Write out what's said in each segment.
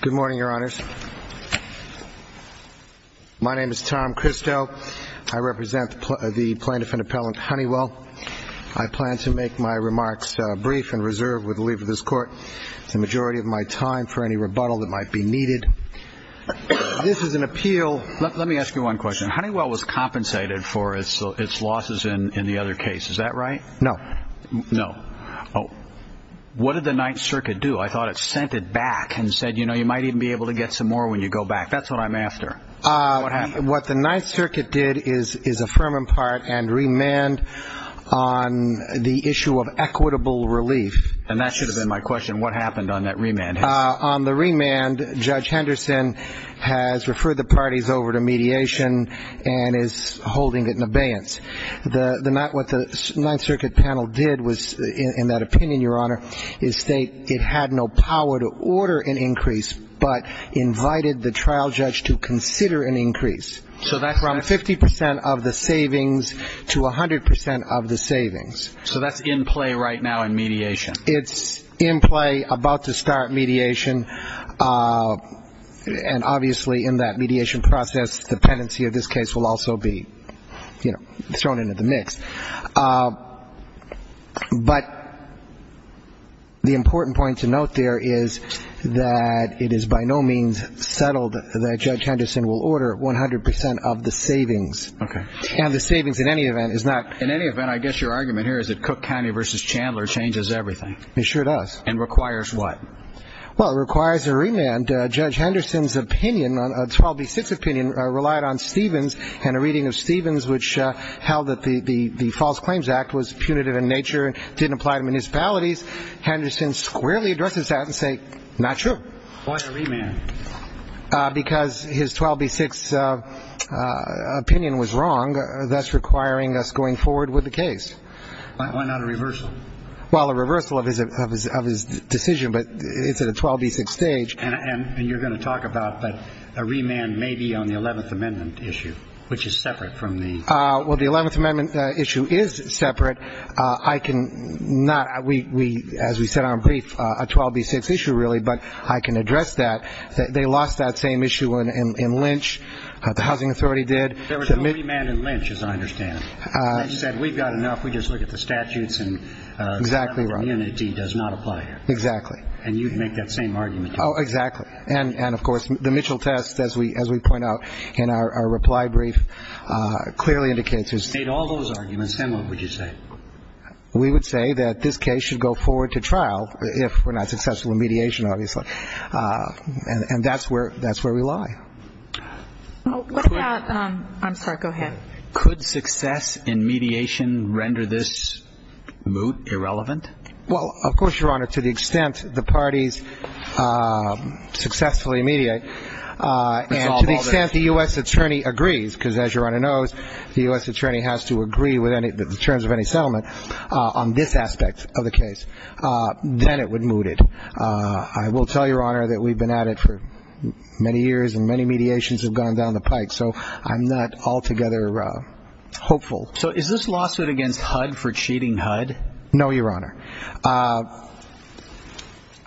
Good morning, Your Honors. My name is Tom Christo. I represent the plaintiff and appellant Honeywell. I plan to make my remarks brief and reserved with the leave of this Court for the majority of my time for any rebuttal that might be needed. This is an appeal. Let me ask you one question. Honeywell was compensated for its losses in the other case. Is that right? No. No. What did the Ninth Circuit do? I thought it sent it back and said, you know, you might even be able to get some more when you go back. That's what I'm after. What happened? What the Ninth Circuit did is affirm and part and remand on the issue of equitable relief. And that should have been my question. What happened on that remand? On the has referred the parties over to mediation and is holding it in abeyance. What the Ninth Circuit panel did was, in that opinion, Your Honor, is state it had no power to order an increase but invited the trial judge to consider an increase. So that's from 50 percent of the savings to 100 percent of the savings. So that's in play right now in mediation? It's in play about to start mediation. Uh, and obviously in that mediation process, dependency of this case will also be, you know, thrown into the mix. Uh, but the important point to note there is that it is by no means settled that Judge Henderson will order 100 percent of the savings. Okay. And the savings in any event is not in any event, I guess your argument here is that Cook County versus Chandler changes everything. He sure does. And requires what? Well, it requires a remand. Judge Henderson's opinion on 12B6 opinion relied on Stevens and a reading of Stevens, which held that the false claims act was punitive in nature, didn't apply to municipalities. Henderson squarely addresses that and say, not true. Why a remand? Because his 12B6 opinion was wrong. That's requiring us to go forward with the case. Why not a reversal? Well, a reversal of his decision, but it's at a 12B6 stage. And you're going to talk about a remand maybe on the 11th amendment issue, which is separate from the... Uh, well, the 11th amendment issue is separate. I can not, as we said on brief, a 12B6 issue really, but I can address that. They lost that same issue in Lynch. The same argument. Oh, exactly. And, and of course, the Mitchell test, as we, as we point out in our, our reply brief, uh, clearly indicates... All those arguments, then what would you say? We would say that this case should go forward to trial if we're not successful in mediation, obviously. Uh, and, and that's where, that's where we lie. What about, um, I'm sorry, go ahead. Could success in mediation render this moot, irrelevant? Well, of course, your honor, to the extent the parties, uh, successfully mediate, uh, and to the extent the U.S. attorney agrees, because as your honor knows, the U.S. attorney has to agree with any, the terms of any settlement, uh, on this aspect of the case, uh, then it would moot it. Uh, I will tell your honor that we've been at it for many years and many mediations have gone down the pike. So I'm not altogether, uh, hopeful. So is this lawsuit against HUD for cheating HUD? No, your honor. Uh,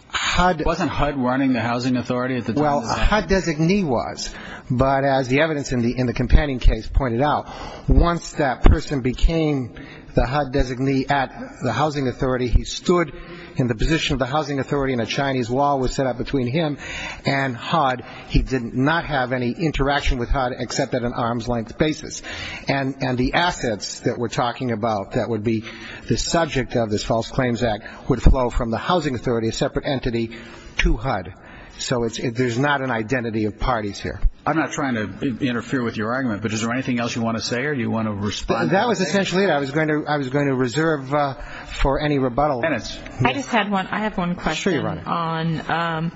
HUD... Wasn't HUD running the housing authority at the time? Well, HUD designee was, but as the evidence in the, in the companion case pointed out, once that person became the HUD designee at the housing authority, he stood in the position of the housing authority and a Chinese law was set up between him and HUD. He did not have any interaction with HUD except at an arm's length basis. And, and the assets that we're talking about, that would be the subject of this false claims act, would flow from the housing authority, a separate entity, to HUD. So it's, there's not an identity of parties here. I'm not trying to interfere with your argument, but is there anything else you want to say or do you want to respond? That was essentially it. I was going to, I was going to reserve, uh, for any rebuttal. Minutes. I just had one, I have one question on, um,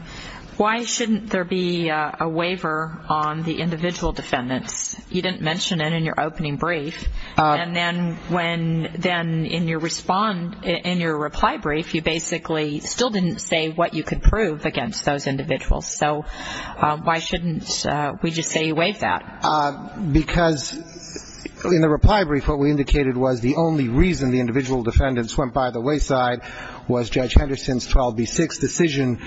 why shouldn't there be a waiver on the individual defendants? You didn't mention it in your opening brief. And then when, then in your respond, in your reply brief, you basically still didn't say what you could prove against those individuals. So, um, why shouldn't, uh, we just say you waive that? Uh, because in the reply brief, what we indicated was the only reason the individual defendants went by the wayside was Judge Henderson's 12B6 decision,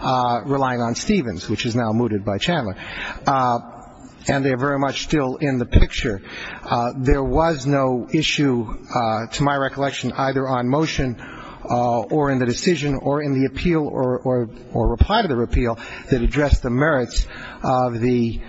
uh, relying on Stevens, which is now mooted by Chandler. Uh, and they're very much still in the picture. Uh, there was no issue, uh, to my recollection, either on motion, uh, or in the decision or in the appeal or, or, or reply to the repeal that addressed the merits of the,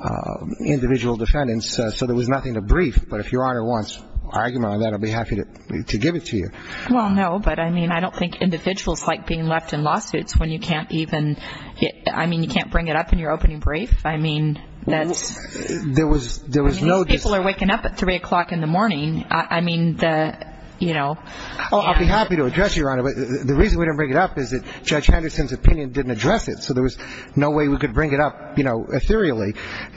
uh, individual defendants. Uh, so there was nothing to brief, but if Your Honor wants argument on that, I'll be happy to, to give it to you. Well, no, but I mean, I don't think individuals like being left in lawsuits when you can't even get, I mean, you can't bring it up in your opening brief. I mean, that's, There was, there was no, People are waking up at three o'clock in the morning. I mean, the, you know, Oh, I'll be happy to address Your Honor. But the reason we don't bring it up is that Judge Henderson's opinion didn't address it. So there was no way we could bring it up, you know, ethereally.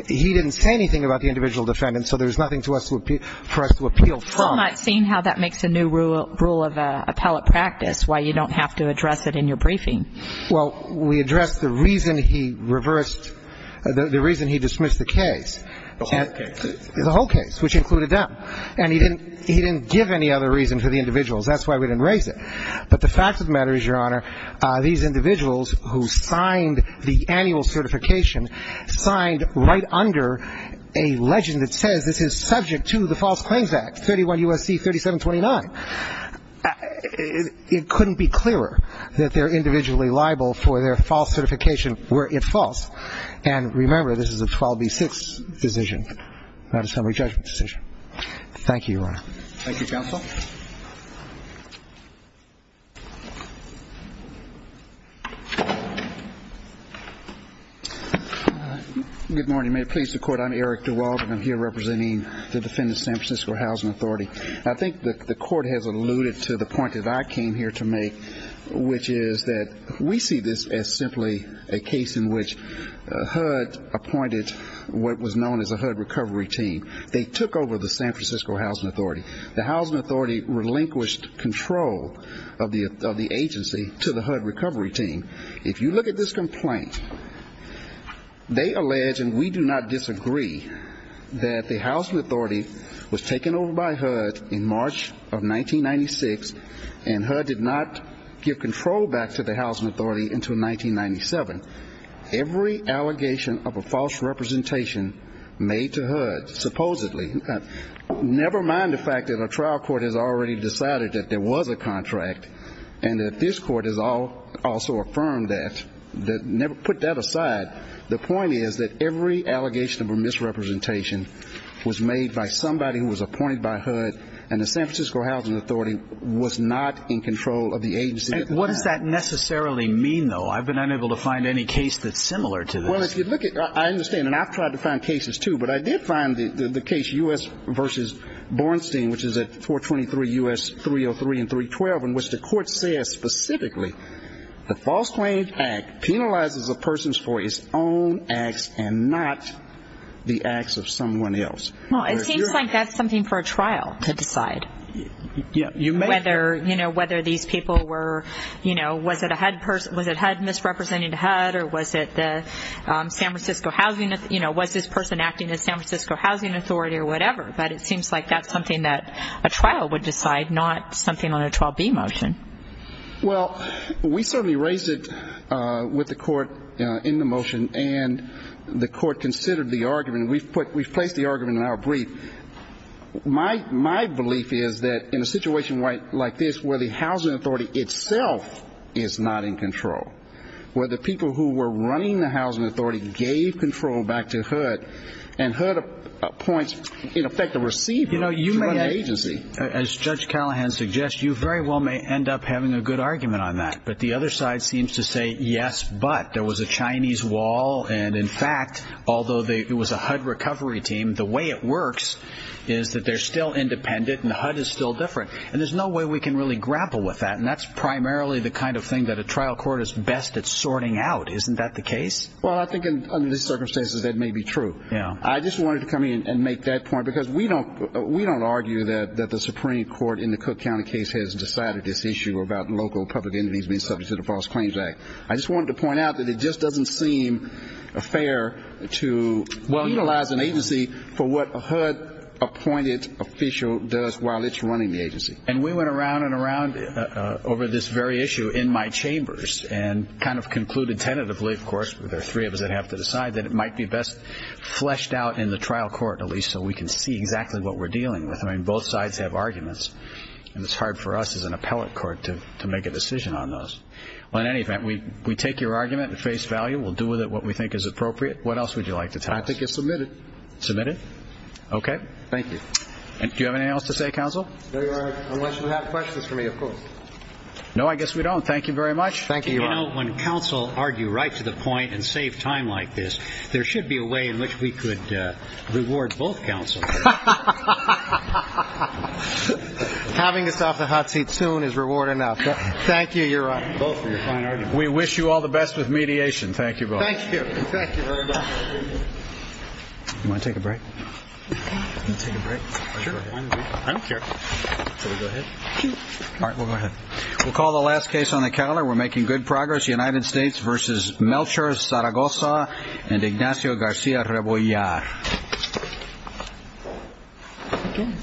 He didn't say anything about the Seeing how that makes a new rule, rule of appellate practice, why you don't have to address it in your briefing. Well, we addressed the reason he reversed the reason he dismissed the case, the whole case, which included them. And he didn't, he didn't give any other reason for the individuals. That's why we didn't raise it. But the fact of the matter is Your Honor, uh, these individuals who signed the annual certification signed right under a legend that says this is subject to the 21 U.S.C. 3729. It couldn't be clearer that they're individually liable for their false certification were it false. And remember, this is a 12B6 decision, not a summary judgment decision. Thank you, Your Honor. Thank you, counsel. Good morning. May it please the court. I'm Eric DeWald, and I'm here representing the defendant's San Francisco Housing Authority. I think the court has alluded to the point that I came here to make, which is that we see this as simply a case in which HUD appointed what was known as a HUD recovery team. They took over the San Francisco Housing Authority. The Housing Authority relinquished control of the agency to the HUD recovery team. If you look at this complaint, they allege, and we do not disagree, that the Housing Authority was taken over by HUD in March of 1996, and HUD did not give control back to the Housing Authority until 1997. Every allegation of a false representation made to HUD, supposedly, never mind the fact that a trial court has already decided that there was a contract, and that this court has also affirmed that, put that aside. The point is that every allegation of a misrepresentation was made by somebody who was appointed by HUD, and the San Francisco Housing Authority was not in control of the agency. What does that necessarily mean, though? I've been unable to find any case that's similar to this. Well, if you look at, I understand, and I've tried to find cases too, but I did find the case U.S. v. Bornstein, which is at 423 U.S. 303 and 312, in which the court says specifically, the False Claims Act penalizes a person for his own acts and not the acts of someone else. Well, it seems like that's something for a trial to decide, whether these people were, you know, was it HUD misrepresenting HUD, or was it the San Francisco Housing, you know, was this person acting as San Francisco Housing Authority, or whatever. But it seems like that's something that a trial would decide, not something on a 12B motion. Well, we certainly raised it with the court in the motion, and the court considered the argument. We've placed the argument in our brief. My belief is that in a situation like this, where the housing authority itself is not in control, where the people who were running the housing authority gave control back to HUD, and HUD appoints, in effect, a receiver for an agency. As Judge Callahan suggests, you very well may end up having a good argument on that. But the other side seems to say, yes, but. There was a Chinese wall, and in fact, although it was a HUD recovery team, the way it works is that they're still independent, and HUD is still different. And there's no way we can really grapple with that. And that's primarily the kind of thing that a trial court is best at sorting out. Isn't that the case? Well, I think under these circumstances, that may be true. I just wanted to come in and make that point, because we don't argue that the Supreme Court in the Cook County case has decided this issue about local public entities being subject to the False Claims Act. I just wanted to point out that it just doesn't seem fair to utilize an agency for what a HUD appointed official does while it's running the agency. And we went around and around over this very issue in my chambers, and kind of concluded tentatively, of course, there are three of us that have to decide, that it might be best fleshed out in the trial court, at least, so we can see exactly what we're dealing with. I mean, both sides have arguments, and it's hard for us as an appellate court to make a decision on those. Well, in any event, we take your argument at face value. We'll do with it what we think is appropriate. What else would you like to tell us? I think it's submitted. Submitted? Okay. Thank you. And do you have anything else to say, Counsel? No, Your Honor, unless you have questions for me, of course. No, I guess we don't. Thank you very much. Thank you, Your Honor. You know, when counsel argue right to the point and save time like this, there should be a way in which we could reward both counsel. Ha ha ha ha ha ha ha ha ha ha ha! Having us off the hot seat soon is reward enough. Thank you, Your Honor. Both for your fine argument. We wish you all the best with mediation. Thank you both. Thank you. Thank you very much. Do you want to take a break? I'll take a break. I don't care. Shall we go ahead? All right, we'll go ahead. We'll call the last case on the calendar. We're making good progress. United States v. Melcher, Zaragoza, and Ignacio Garcia-Rebollar. Very good. Very good. Very good. Very good.